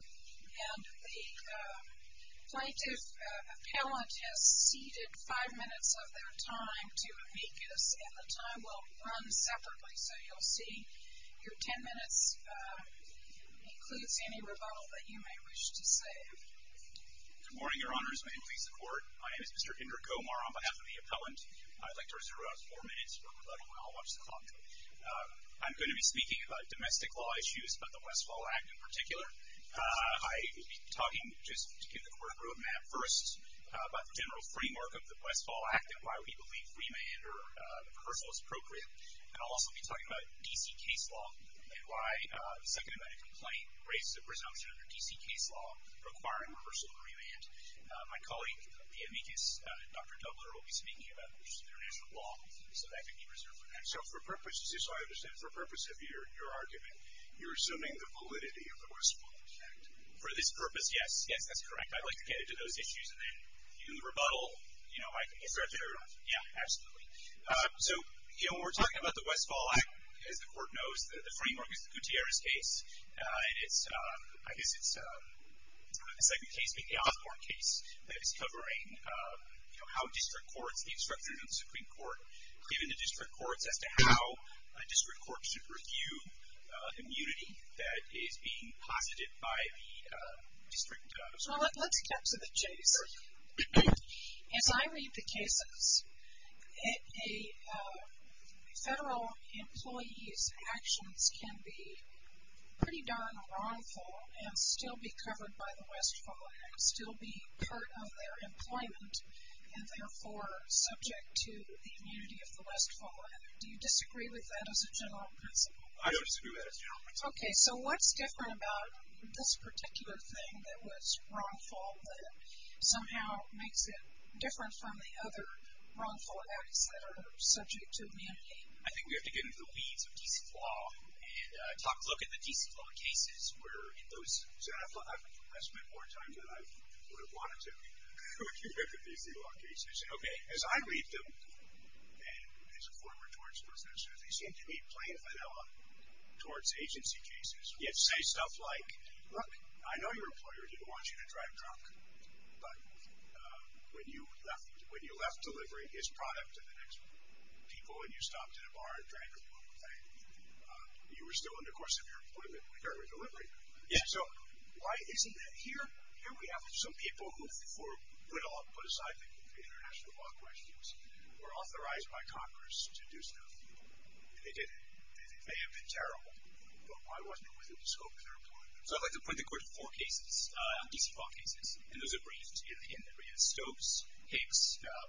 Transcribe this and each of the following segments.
The plaintiff's appellant has ceded five minutes of their time to amicus and the time will run separately. So you'll see your ten minutes includes any rebuttal that you may wish to say. Good morning, Your Honors. May it please the Court. My name is Mr. Inder Kumar on behalf of the appellant. I'd like to reserve four minutes for rebuttal and I'll watch the clock. I'm going to be speaking about domestic law issues, but the Westfall Act in particular. I will be talking just to give the Court a roadmap first about the general framework of the Westfall Act and why we believe remand or reversal is appropriate. And I'll also be talking about D.C. case law and why the second amendment complaint raises a presumption under D.C. case law requiring reversal and remand. My colleague, the amicus, Dr. Dubler, will be speaking about international law. So that can be reserved for next time. So for purposes of your argument, you're assuming the validity of the Westfall Act. For this purpose, yes. Yes, that's correct. I'd like to get into those issues and then in the rebuttal, you know, I can get to it. Yeah, absolutely. So, you know, when we're talking about the Westfall Act, as the Court knows, the framework is the Gutierrez case. And it's, I guess it's a second case being the Osborne case that is covering, you know, how district courts, the instructions of the Supreme Court, giving the district courts as to how a district court should review immunity that is being posited by the district. Well, let's get to the case. As I read the cases, federal employees' actions can be pretty darn wrongful and still be covered by the Westfall Act, still be part of their employment. And therefore, subject to the immunity of the Westfall Act. Do you disagree with that as a general principle? I don't disagree with that as a general principle. Okay. So what's different about this particular thing that was wrongful that somehow makes it different from the other wrongful acts that are subject to the immunity? I think we have to get into the weeds of D.C. law and take a look at the D.C. law cases I've spent more time than I would have wanted to look at these D.C. law cases. Okay. As I read them, and as a former torts professor, they seem to be playing fidelity towards agency cases. Say stuff like, look, I know your employer didn't want you to drive drunk, but when you left delivering his product to the next people and you stopped in a bar and drank a local thing, you were still in the course of your employment when you started delivering. Yeah. So why isn't that here? Here we have some people who for good or put aside the international law questions were authorized by Congress to do stuff. And they did it. They may have been terrible, but why wasn't it within the scope of their employment? So I'd like to point the court to four cases, D.C. law cases. And those are briefed in Stokes, Hicks,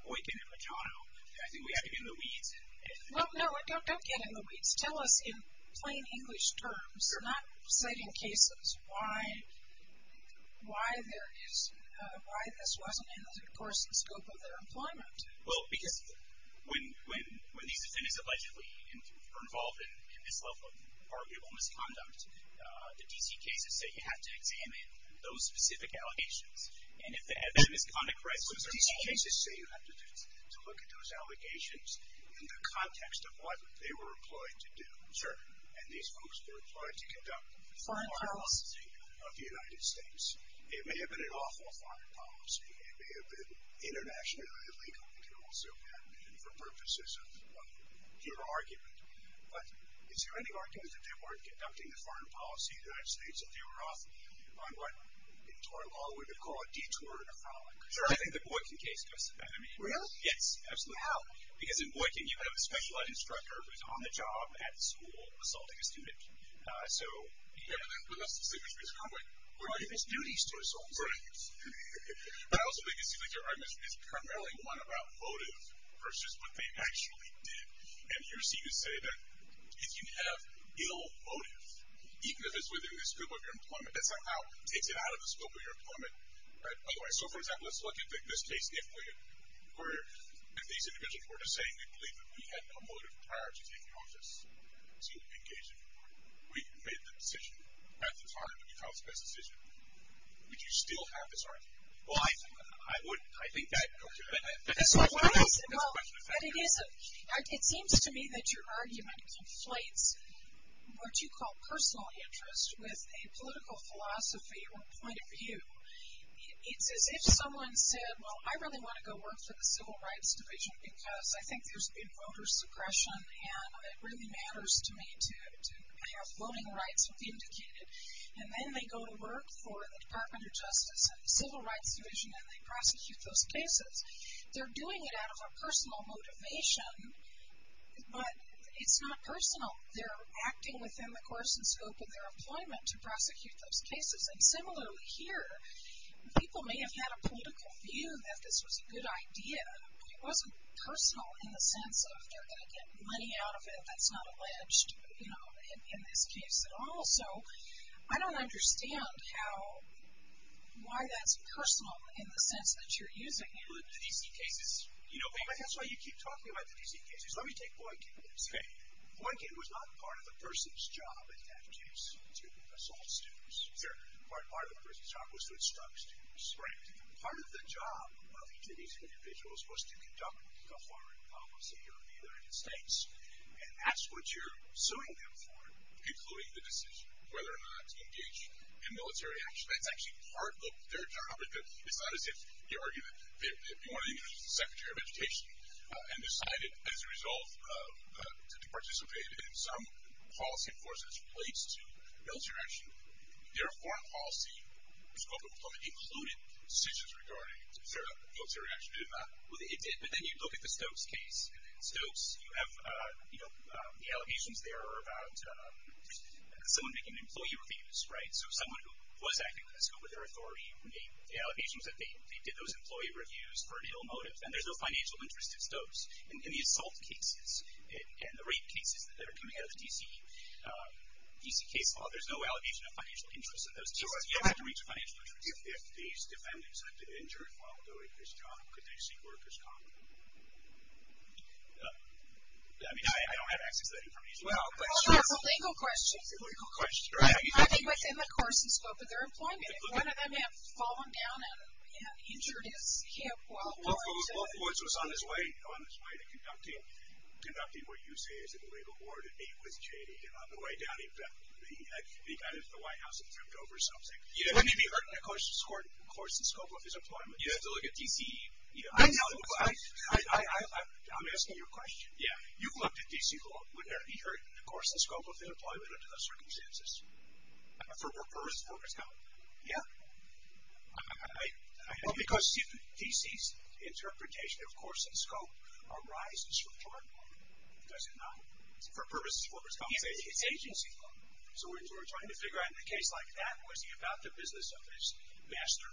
Boykin, and McDonough. I think we have to get in the weeds. Well, no, don't get in the weeds. Tell us in plain English terms, not citing cases, why this wasn't in the course and scope of their employment. Well, because when these defendants allegedly are involved in this level of arguable misconduct, the D.C. cases say you have to examine those specific allegations. Those D.C. cases say you have to look at those allegations in the context of what they were employed to do. Sure. And these folks were employed to conduct foreign policy of the United States. It may have been an awful foreign policy. It may have been internationally illegal. It could also have been for purposes of your argument. But is there any argument that they weren't conducting the foreign policy of the United States, if they were off on what in tort law we would call a detour in a frolic? Sure. I think the Boykin case does that. Really? Yes, absolutely. How? Because in Boykin, you have a specialized instructor who's on the job at the school assaulting a student. Yeah, but that's the same as Mr. Conway. Right. He has duties to assault students. Right. But I also think it seems like your argument is primarily one about motive versus what they actually did. And you seem to say that if you have ill motive, even if it's within the scope of your employment, that somehow takes it out of the scope of your employment. Right? By the way, so, for example, let's look at this case. If these individuals were to say, we believe that we had no motive prior to taking office to engage in war, we made the decision not to target, but we thought it was the best decision, would you still have this argument? Well, I would. I think that. Well, it seems to me that your argument conflates what you call personal interest with a political philosophy or point of view. It's as if someone said, well, I really want to go work for the Civil Rights Division because I think there's been voter suppression, and it really matters to me to have voting rights be indicated. And then they go to work for the Department of Justice and the Civil Rights Division, and they prosecute those cases. They're doing it out of a personal motivation, but it's not personal. They're acting within the course and scope of their employment to prosecute those cases. And similarly here, people may have had a political view that this was a good idea, but it wasn't personal in the sense of they're going to get money out of it, that's not alleged, you know, in this case at all. So I don't understand how, why that's personal in the sense that you're using it. Well, in the D.C. cases, you know, that's why you keep talking about the D.C. cases. Let me take Boykin. Okay. Boykin was not part of the person's job in that case to assault students. Sure. Part of the person's job was to instruct students. Right. Part of the job of each of these individuals was to conduct a foreign policy and ask what you're suing them for, including the decision whether or not to engage in military action. That's actually part of their job. It's not as if you argue that if you want to introduce the Secretary of Education and decide as a result to participate in some policy force that's placed to military action, their foreign policy scope of employment included decisions regarding military action, did it not? It did. But then you look at the Stokes case, and in Stokes you have, you know, the allegations there are about someone making employee reviews, right? So someone who was acting on a scope of their authority made the allegations that they did those employee reviews for an ill motive, and there's no financial interest at Stokes. In the assault cases and the rape cases that are coming out of the D.C. case law, there's no allegation of financial interest in those cases. You have to reach a financial attorney. If these defendants had been injured while doing this job, could they seek workers' compensation? I mean, I don't have access to that information. It's a legal question. It's a legal question. I think within the course and scope of their employment, if one of them had fallen down and injured his hip while going to the... Well, Ford's was on his way, you know, on his way to conducting what you say is a legal war to meet with J.D. And on the way down, he got into the White House and tripped over something. Wouldn't he be hurt in the course and scope of his employment? You have to look at D.C.... I'm asking you a question. Yeah. You've looked at D.C. law. Wouldn't there be hurt in the course and scope of their employment under those circumstances? For workers' compensation? Yeah. Because D.C.'s interpretation of course and scope arises from drug law, does it not? For workers' compensation. It's agency law. So we're trying to figure out in a case like that, was he about the business of his master?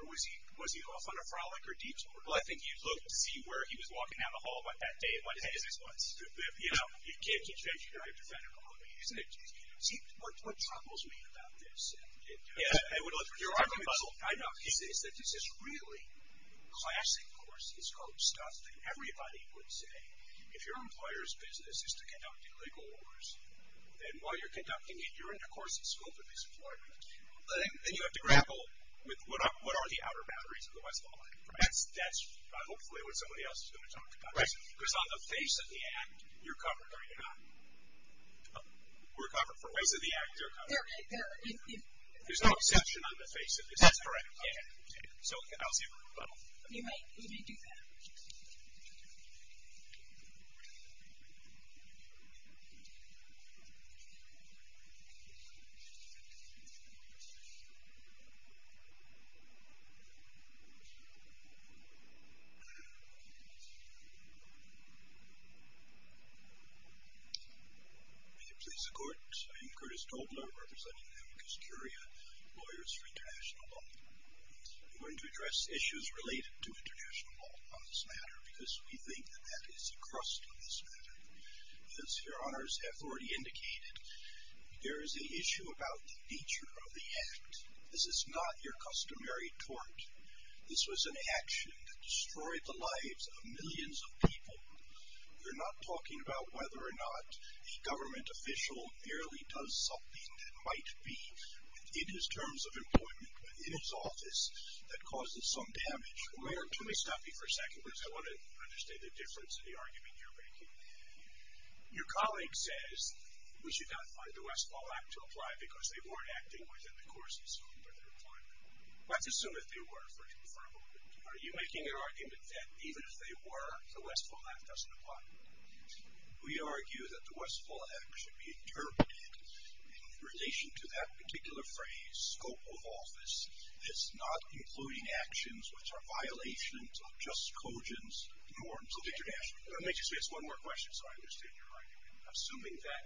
Or was he off on a frolic or detour? Well, I think you'd look to see where he was walking down the hall about that day and what his business was. You know, you can't keep changing the right to federal. See, what troubles me about this... Yeah. I know. Is that this is really classic course and scope stuff that everybody would say, if your employer's business is to conduct illegal wars, then while you're conducting it, you're in the course and scope of his employment. Then you have to grapple with what are the outer boundaries of the West Lawn. That's hopefully what somebody else is going to talk about. Right. Because on the face of the act, you're covered. Are you not? We're covered. On the face of the act, you're covered. There's no exception on the face of this. That's correct. Yeah. So I don't see a problem. You're right. We may do that. May it please the Court. I am Curtis Tobler, representing Amicus Curia Lawyers for International Law. I'm going to address issues related to international law on this matter, because we think that that is the crust of this matter. As your honors have already indicated, there is an issue about the nature of the act. This is not your customary tort. This was an action that destroyed the lives of millions of people. We're not talking about whether or not a government official merely does something that might be, in his terms of employment, in his office, that causes some damage. Mayor, can we stop you for a second? Because I want to understand the difference in the argument you're making. Your colleague says we should not find the Westfall Act to apply, because they weren't acting within the course assumed by the requirement. Let's assume that they were, for a moment. Are you making an argument that even if they were, the Westfall Act doesn't apply? We argue that the Westfall Act should be interpreted, in relation to that particular phrase, scope of office, as not including actions which are violations of just cogent norms of international law. Let me just ask one more question, so I understand your argument. Assuming that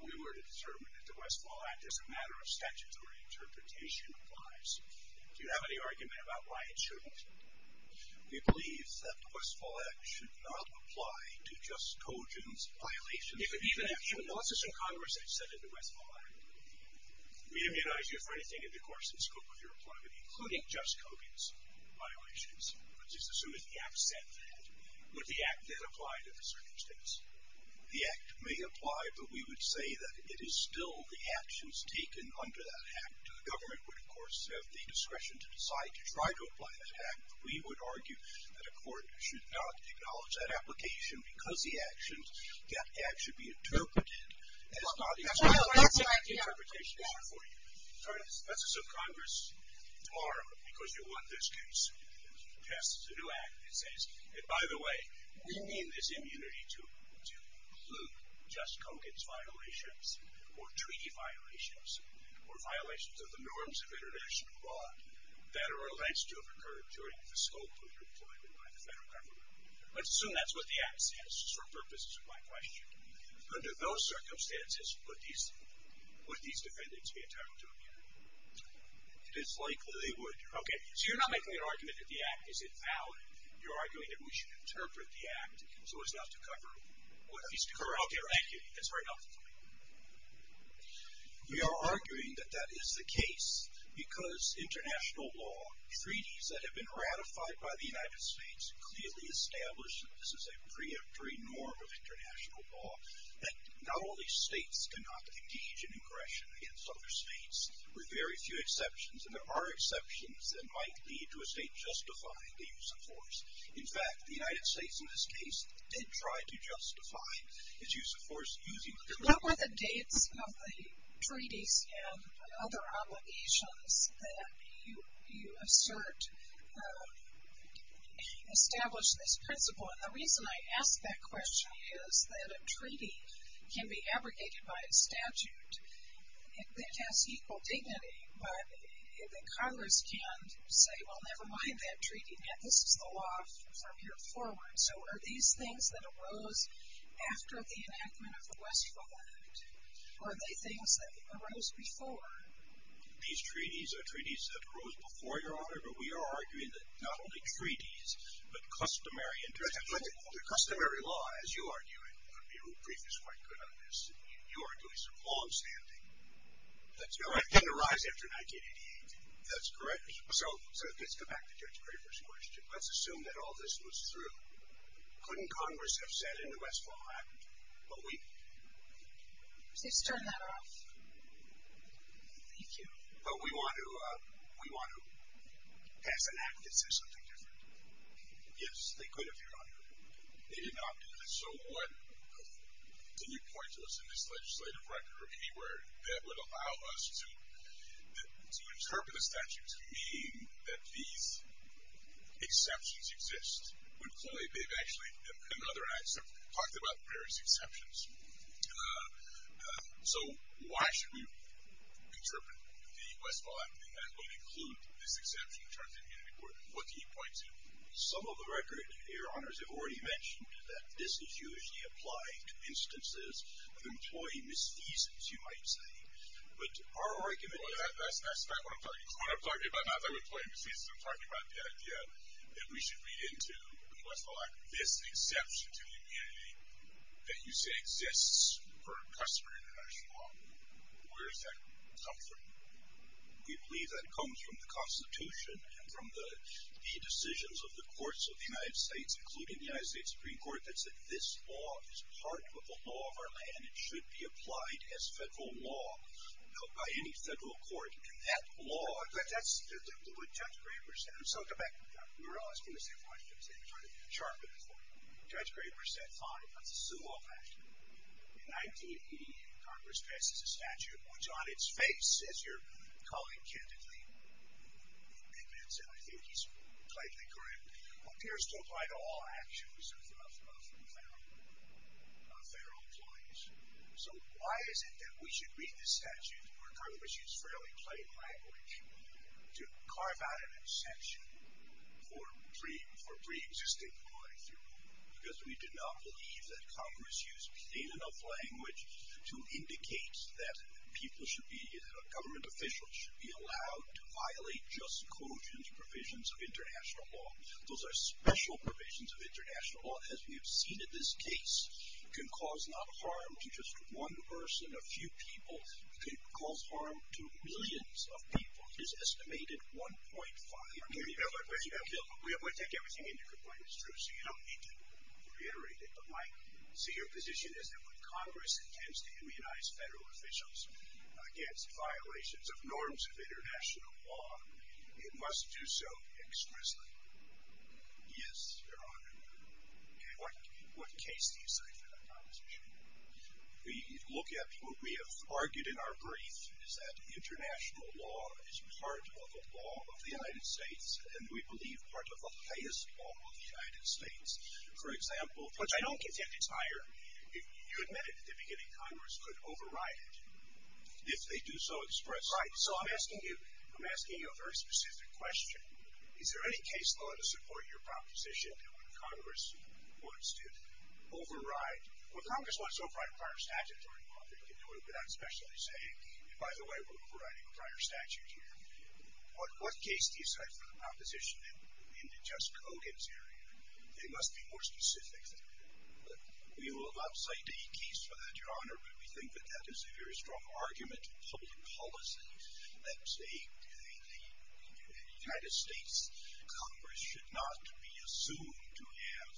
we were to determine that the Westfall Act as a matter of statute or interpretation applies, do you have any argument about why it shouldn't? We believe that the Westfall Act should not apply to just cogent violations of international law. Even in the last session of Congress, they've said that the Westfall Act would re-immunize you for anything in the course and scope of your employment, including just cogent violations. Let's just assume that the Act said that. Would the Act then apply to the circumstance? The Act may apply, but we would say that it is still the actions taken under that Act. The government would, of course, have the discretion to decide to try to apply that Act, but we would argue that a court should not acknowledge that application because the actions that Act should be interpreted as not included in the interpretation matter for you. Let's assume Congress, tomorrow, because you won this case, passes a new Act that says, and by the way, we mean this immunity to include just cogent violations or treaty violations or violations of the norms of international law that are alleged to have occurred during the scope of your employment by the federal government. Let's assume that's what the Act says for purposes of my question. Under those circumstances, would these defendants be entitled to immunity? It is likely they would. Okay, so you're not making an argument that the Act is invalid. You're arguing that we should interpret the Act so as not to cover, or at least to correct immunity. That's very helpful to me. We are arguing that that is the case because international law, treaties that have been ratified by the United States, clearly establish that this is a preemptory norm of international law, that not only states cannot engage in aggression against other states, with very few exceptions, and there are exceptions that might lead to a state justifying the use of force. In fact, the United States in this case did try to justify its use of force using... What were the dates of the treaties and other obligations that you assert established this principle? And the reason I ask that question is that a treaty can be abrogated by a statute that has equal dignity, but Congress can say, well, never mind that treaty. This is the law from here forward. So are these things that arose after the enactment of the Westphal Act, or are they things that arose before? These treaties are treaties that arose before, Your Honor, but we are arguing that not only treaties, but customary international... But the customary law, as you are doing, I mean Rupreef is quite good on this, you are doing some longstanding... No, it didn't arise after 1988. That's correct. So let's go back to Judge Graber's question. Let's assume that all this was through. Couldn't Congress have said in the Westphal Act, well, we... Let's turn that off. Thank you. But we want to pass an act that says something different. Yes, they could have, Your Honor. They did not. So what... Can you point to us in this legislative record, or anywhere, that would allow us to interpret a statute to mean that these exceptions exist? They've actually, in another act, talked about various exceptions. So why should we interpret the Westphal Act and that would include this exception in terms of unity court? What can you point to? Some of the record, Your Honors, have already mentioned that this is usually applied to instances of employee misfeasance, you might say. But our argument... That's not what I'm talking about. I'm not talking about employee misfeasance. I'm talking about the idea that we should read into the Westphal Act, this exception to unity that you say exists for customer international law. Where does that come from? We believe that comes from the Constitution and from the decisions of the courts of the United States, including the United States Supreme Court, that said this law is part of the law of our land and should be applied as federal law by any federal court. And that law... But that's what Judge Graber said. And so, go back to that. We were always going to say Washington State, but we're trying to sharpen it for you. Judge Graber said, fine, let's assume all that. In 1988, Congress passes a statute which, on its face, as your colleague candidly admits, and I think he's tightly correct, appears to apply to all actions of federal employees. So why is it that we should read this statute, where Congress used fairly plain language, to carve out an exemption for preexisting employees? Because we do not believe that Congress used plain enough language to indicate that people should be, that government officials should be allowed to violate just quotient provisions of international law. Those are special provisions of international law, as we have seen in this case. It can cause not harm to just one person, a few people. It can cause harm to millions of people. It is estimated 1.5 million people. We take everything into account. It's true. So you don't need to reiterate it. My senior position is that when Congress intends to immunize federal officials against violations of norms of international law, it must do so exquisitely. Yes, Your Honor. What case do you cite for that conversation? We look at what we have argued in our brief, is that international law is part of the law of the United States, and we believe part of the highest law of the United States. For example, which I don't contend it's higher, you admitted at the beginning Congress could override it if they do so expressly. Right. So I'm asking you a very specific question. Is there any case law to support your proposition that when Congress wants to override, when Congress wants to override a prior statute, Your Honor, you can do it without especially saying, and by the way, we're overriding a prior statute here. What case do you cite for the proposition in the Jess Coggins area? It must be more specific. We will not cite a case for that, Your Honor, but we think that that is a very strong argument of public policy, that the United States Congress should not be assumed to have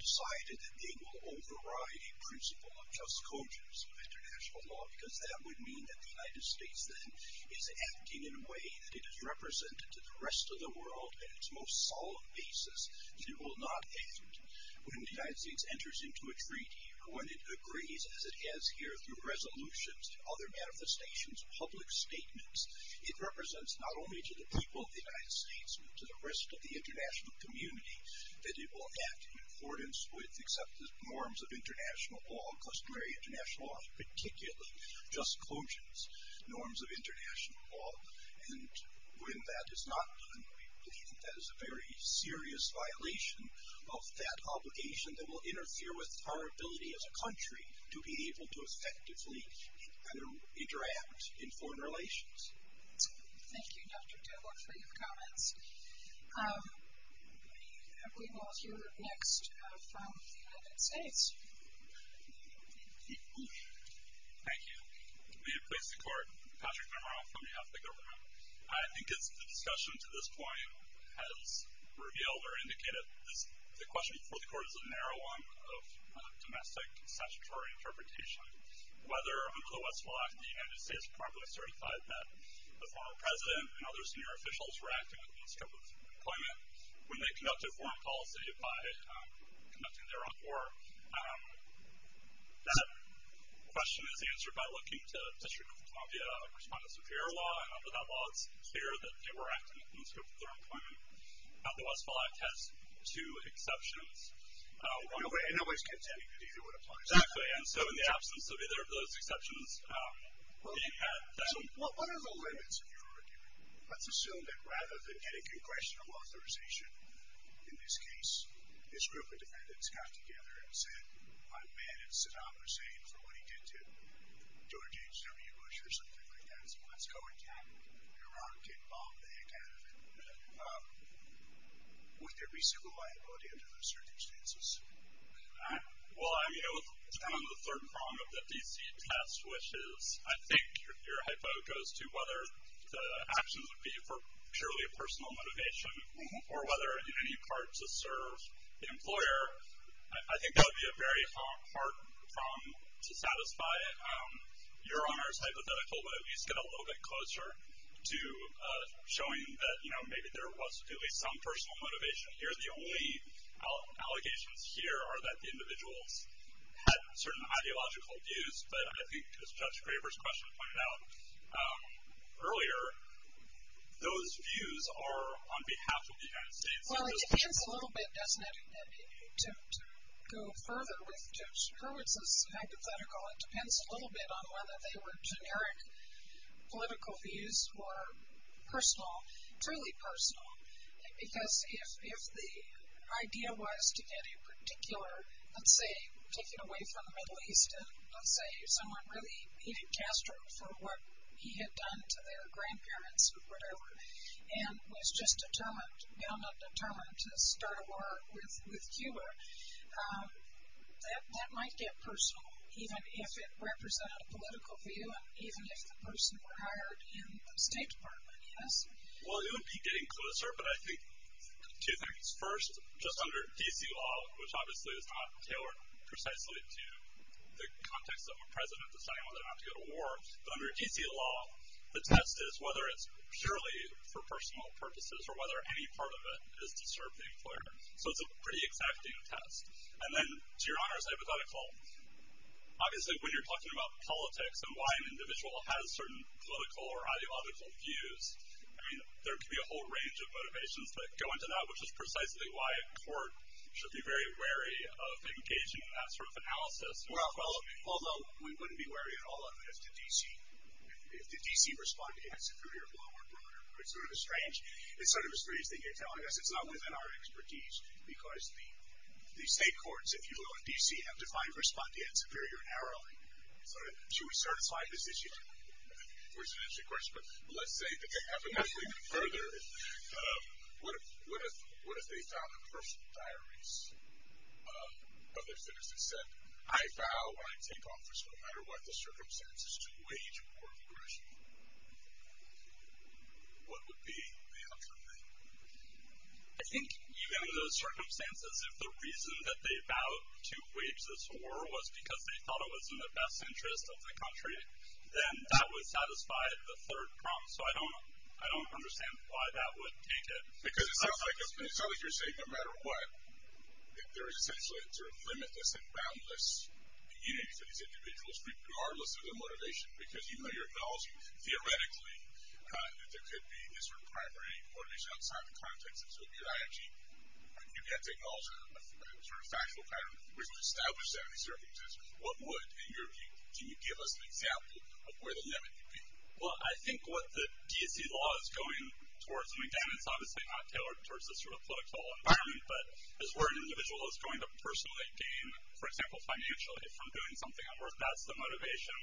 decided that they will override a principle of Jess Coggins of international law, because that would mean that the United States then is acting in a way that it is represented to the rest of the world on its most solid basis that it will not act when the United States enters into a treaty or when it agrees as it has here through resolutions, other manifestations, public statements. It represents not only to the people of the United States but to the rest of the international community that it will act in accordance with accepted norms of international law, customary international law, particularly Jess Coggins norms of international law, and when that is not done, we believe that is a very serious violation of that obligation that will interfere with our ability as a country to be able to effectively interact in foreign relations. Thank you, Dr. Tiller, for your comments. We will hear next from the United States. Thank you. May it please the Court. Patrick Monroe from behalf of the government. I think it's the discussion to this point has revealed or indicated the question before the Court is a narrow one of domestic statutory interpretation. Whether under the West Wallach, the United States properly certified that the former president and other senior officials were acting with the scope of employment when they conducted foreign policy by conducting their own war, that question is answered by looking to District of Columbia respondents of fair law, and under that law, it's clear that they were acting in the scope of their employment. The West Wallach has two exceptions. In that way, it's contending that either would apply. Exactly, and so in the absence of either of those exceptions, they had that. What are the limits of your argument? Let's assume that rather than getting congressional authorization in this case, this group of defendants got together and said, I'm mad at Saddam Hussein for what he did to George H.W. Bush or something like that, so let's go attack Iraq and bomb the heck out of it. Would there be civil liability under those circumstances? Well, I'm on the third prong of the DC test, which is I think your hypo goes to whether the actions would be for purely personal motivation or whether in any part to serve the employer. I think that would be a very hard prong to satisfy. Your honor's hypothetical, but at least get a little bit closer to showing that, you know, maybe there was at least some personal motivation here. The only allegations here are that the individuals had certain ideological views, but I think as Judge Graber's question pointed out earlier, those views are on behalf of the United States. Well, it depends a little bit, doesn't it? To go further with Judge Hurwitz's hypothetical, it depends a little bit on whether they were generic political views or personal, truly personal, because if the idea was to get a particular, let's say, taken away from the Middle East, let's say someone really hated Castro for what he had done to their grandparents or whatever and was just determined, you know, not determined to start a war with Cuba, that might get personal even if it represented a political view and even if the person were hired in the State Department, yes? Well, it would be getting closer, but I think two things. First, just under DC law, which obviously is not tailored precisely to the context of a president deciding whether or not to go to war, but under DC law, the test is whether it's purely for personal purposes or whether any part of it is to serve the employer. So it's a pretty exacting test. And then to Your Honor's hypothetical, obviously when you're talking about politics and why an individual has certain political or ideological views, I mean, there could be a whole range of motivations that go into that, which is precisely why a court should be very wary of engaging in that sort of analysis. Well, although we wouldn't be wary at all of it if the DC respondeant is superior, below, or broader. It's sort of a strange thing you're telling us. It's not within our expertise, because the state courts, if you will, in DC have defined respondeant superior narrowly. So should we certify this issue? It's an interesting question, but let's say, to have it even further, what if they found in personal diaries of their citizens that said, I vow when I take office, no matter what the circumstances, to wage war of aggression? What would be the outcome then? I think even in those circumstances, if the reason that they vowed to wage this war was because they thought it was in the best interest of the country, then that would satisfy the third prompt. So I don't understand why that would take it. Because it sounds like you're saying no matter what, there is essentially a sort of limitless and boundless unity for these individuals, regardless of their motivation, because you know your knowledge, theoretically, that there could be this sort of primary motivation outside the context of Soviet IMG. You've yet to acknowledge a sort of factual pattern which would establish that in these circumstances. What would, in your view, can you give us an example of where the limit could be? Well, I think what the D.C. law is going towards, and again, it's obviously not tailored towards this sort of political environment, but is where an individual is going to personally gain, for example, financially from doing something at work. That's the motivation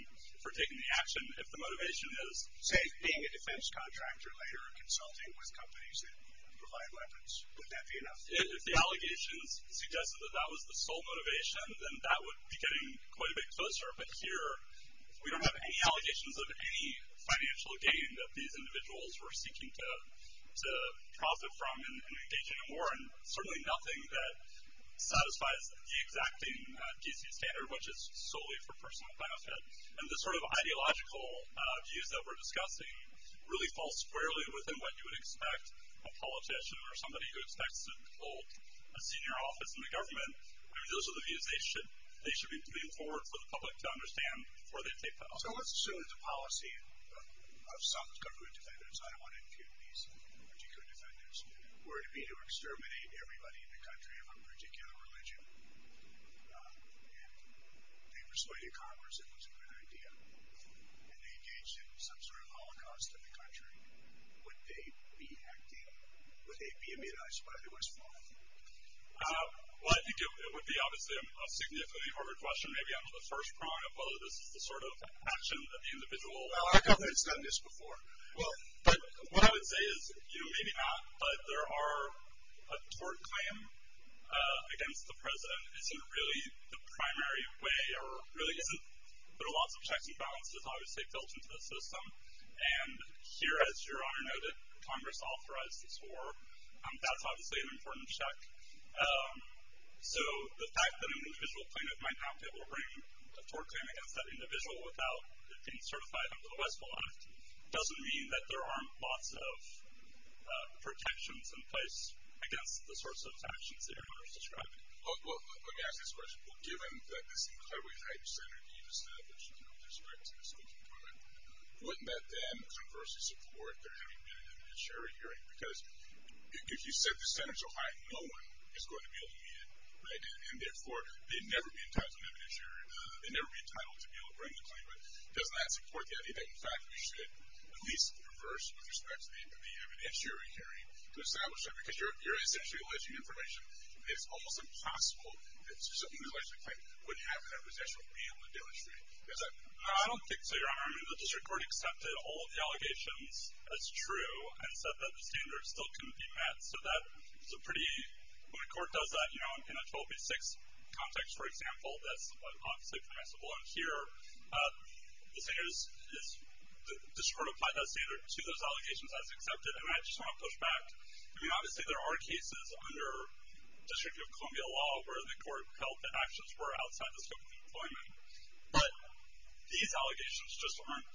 for taking the action. If the motivation is, say, being a defense contractor later or consulting with companies that provide weapons, would that be enough? If the allegations suggested that that was the sole motivation, then that would be getting quite a bit closer. But here, we don't have any allegations of any financial gain that these individuals were seeking to profit from in engaging in war, and certainly nothing that satisfies the exacting D.C. standard, which is solely for personal benefit. And the sort of ideological views that we're discussing really fall squarely within what you would expect a politician or somebody who expects to hold a senior office in the government. Those are the views they should be moving forward for the public to understand before they take the action. So let's assume that the policy of some government defenders, I don't want to impugn these particular defenders, were to be to exterminate everybody in the country of a particular religion, and they persuaded Congress it was a good idea, and they engaged in some sort of holocaust in the country. Would they be acting, would they be immunized by the West Wing? Well, I think it would be, obviously, a significantly harder question maybe on the first prong of whether this is the sort of action that the individual Well, our government's done this before. But what I would say is, you know, maybe not, but there are a tort claim against the president isn't really the primary way or really isn't. There are lots of checks and balances, obviously, built into the system. And here, as Your Honor noted, Congress authorized this war. That's obviously an important check. So the fact that an individual plaintiff might not be able to bring a tort claim against that individual without it being certified under the West Bloc doesn't mean that there aren't lots of protections in place against the sorts of actions that Your Honor is describing. Well, let me ask you this question. Given that this incredibly high standard you've established in respect to the Supreme Court, wouldn't that then, conversely, support their having been in a military hearing? Because if you set the standards so high, no one is going to be able to meet it. And therefore, they'd never be entitled to an evidence hearing. They'd never be entitled to be able to bring the claim. But doesn't that support the idea that, in fact, we should at least reverse with respect to the evidence hearing to establish that? Because you're essentially alleging information. It's almost impossible that someone who's alleged to have a claim would have that possession and be able to demonstrate it. I don't think so, Your Honor. I mean, the district court accepted all the allegations as true. I said that the standards still couldn't be met. So that's a pretty, when a court does that, you know, in a 12-B-6 context, for example, that's obviously permissible. And here, the district court applied that standard to those allegations as accepted. And I just want to push back. I mean, obviously, there are cases under District of Columbia law where the court held that actions were outside the scope of the employment. But these allegations just aren't.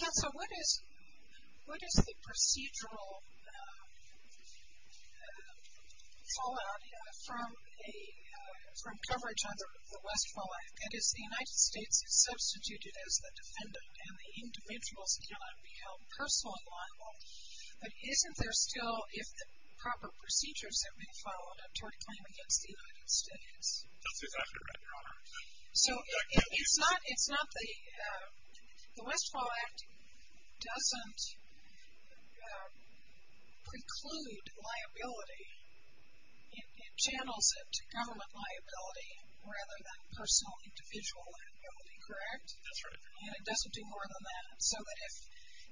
Counsel, what is the procedural fallout from coverage of the West fallout? That is, the United States is substituted as the defendant, and the individuals cannot be held personally liable. But isn't there still, if the proper procedures have been followed up, toward a claim against the United States? That's exactly right, Your Honor. So it's not the, the Westfall Act doesn't preclude liability. It channels it to government liability rather than personal, individual liability, correct? That's right. And it doesn't do more than that. So that if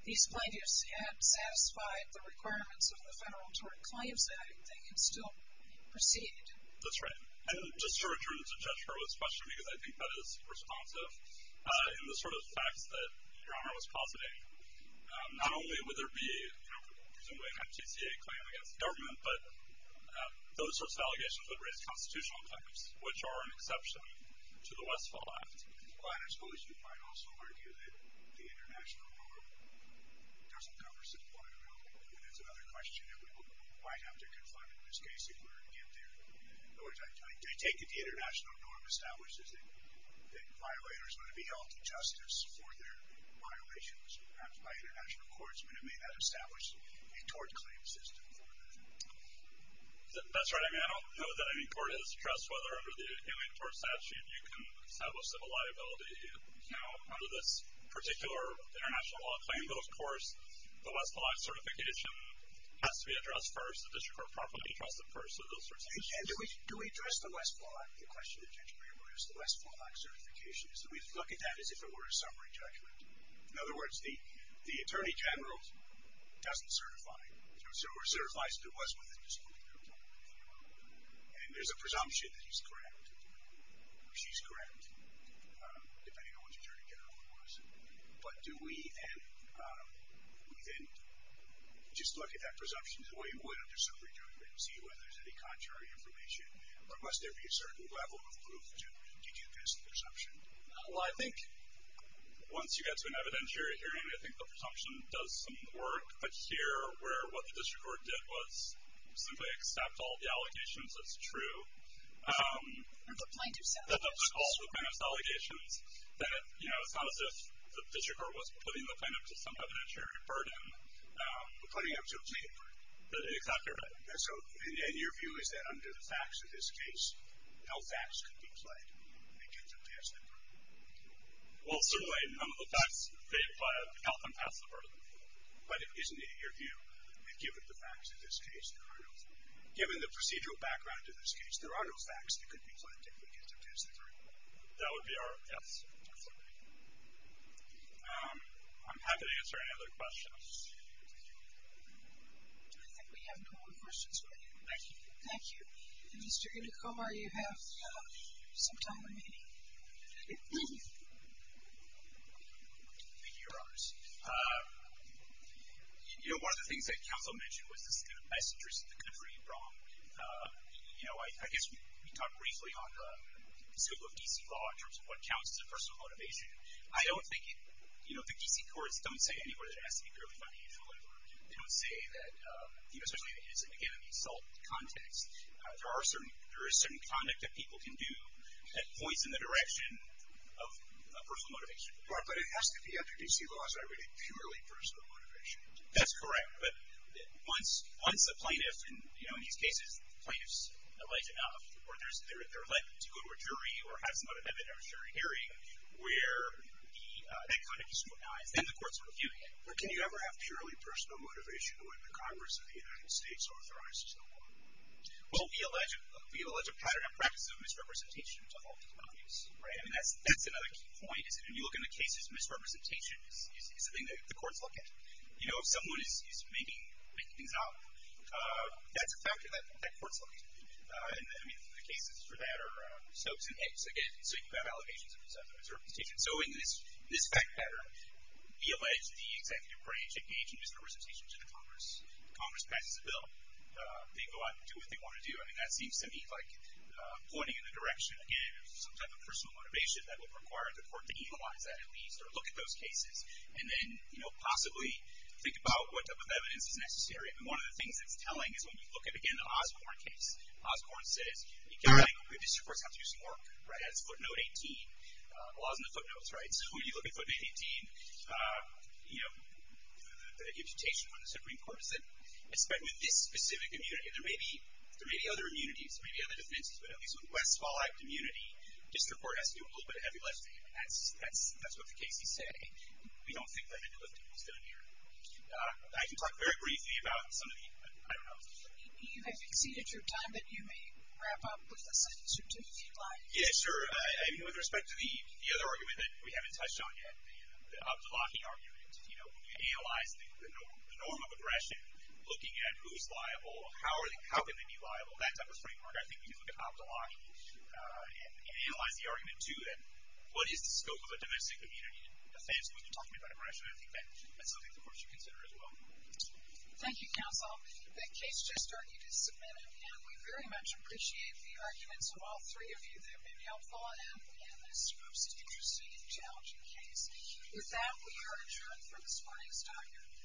these plaintiffs had satisfied the requirements of the Federal Tort Claims Act, they can still proceed. That's right. And just to return to Judge Hurwitz's question, because I think that is responsive, in the sort of facts that Your Honor was positing, not only would there be, presumably, an MTCA claim against the government, but those sorts of allegations would raise constitutional claims, which are an exception to the Westfall Act. Well, and I suppose you might also argue that the international law doesn't cover subpoena liability. And that's another question that we might have to confront in this case if we're going to get there. In other words, I take it the international norm establishes that violators ought to be held to justice for their violations, perhaps by international courts, but it may not establish a tort claim system for them. That's right. I mean, I don't know that any court has trust, whether under the Alien Tort Statute you can establish civil liability, you know, under this particular international law claim. But, of course, the Westfall Act certification has to be addressed first, so those sorts of issues. And do we address the Westfall Act, the question that you're trying to raise, the Westfall Act certification? Do we look at that as if it were a summary document? In other words, the Attorney General doesn't certify, or certifies that it was with a disciplinary authority. And there's a presumption that he's correct or she's correct, depending on which Attorney General it was. But do we then just look at that presumption the way we would look at a summary document to see whether there's any contrary information, or must there be a certain level of proof to do this presumption? Well, I think once you get to an evidentiary hearing, I think the presumption does some work. But here, where what the district court did was simply accept all the allegations as true. And put plaintiff's allegations. And put all the plaintiff's allegations. That, you know, it's not as if the district court was putting the plaintiff to some evidentiary burden. We're putting up to a plaintiff burden. And your view is that under the facts of this case, no facts could be played to get them past the burden? Well, certainly, none of the facts they apply to help them pass the burden. But isn't it your view that given the facts of this case, there are no facts that could be played to get them past the burden? That would be our opinion. I'm happy to answer any other questions. I think we have no more questions for you. Thank you. Thank you. And Mr. Indicomar, you have some time remaining. Thank you, Your Honors. You know, one of the things that counsel mentioned was this kind of messengers to the country in Bronx. You know, I guess we talked briefly on the scope of D.C. law in terms of what counts as a personal motivation. I don't think, you know, the D.C. courts don't say anywhere that it has to be purely financial. They don't say that, you know, especially given the assault context, there is certain conduct that people can do that points in the direction of personal motivation. Right. But it has to be under D.C. laws that are really purely personal motivation. That's correct. But once the plaintiff, you know, in these cases, the plaintiff's alleged enough, or they're led to go to a jury or have some kind of evidentiary hearing where that conduct is scrutinized, then the court's reviewing it. But can you ever have purely personal motivation when the Congress of the United States authorizes the law? Well, we allege a pattern and practice of misrepresentation to hold the plaintiffs. Right. I mean, that's another key point, is that when you look in the cases, misrepresentation is the thing that the courts look at. You know, if someone is making things up, that's a factor that courts look at. And, I mean, the cases for that are stokes and hicks. Again, so you have allegations of misrepresentation. So in this fact pattern, we allege the executive branch engaging misrepresentation to the Congress. Congress passes a bill. They go out and do what they want to do. I mean, that seems to me like pointing in the direction, again, of some type of personal motivation that would require the court to analyze that at least or look at those cases and then, you know, possibly think about what type of evidence is necessary. And one of the things that's telling is when you look at, again, the Osborne case, Osborne says, you can't think the district courts have to do some work. Right. That's footnote 18. The law is in the footnotes. Right. So when you look at footnote 18, you know, the imputation from the Supreme Court is that, especially with this specific immunity, there may be other immunities. There may be other defenses. But at least with West Fallout immunity, district court has to do a little bit of heavy lifting. That's what the cases say. We don't think they're meant to lift. It's done here. I can talk very briefly about some of the, I don't know. If you've exceeded your time, then you may wrap up with a sentence or two if you'd like. Yeah, sure. I mean, with respect to the other argument that we haven't touched on yet, the Abdullahi argument, you know, when you analyze the norm of aggression, looking at who's liable, how can they be liable, that type of framework, I think you can look at Abdullahi and analyze the argument, too. And what is the scope of a domestic immunity defense when you're talking about aggression? I think that's something the courts should consider as well. Thank you, counsel. The case just started. You did submit it. And we very much appreciate the arguments of all three of you. They've been helpful. And, again, this is a most interesting and challenging case. With that, we are adjourned for this morning's document.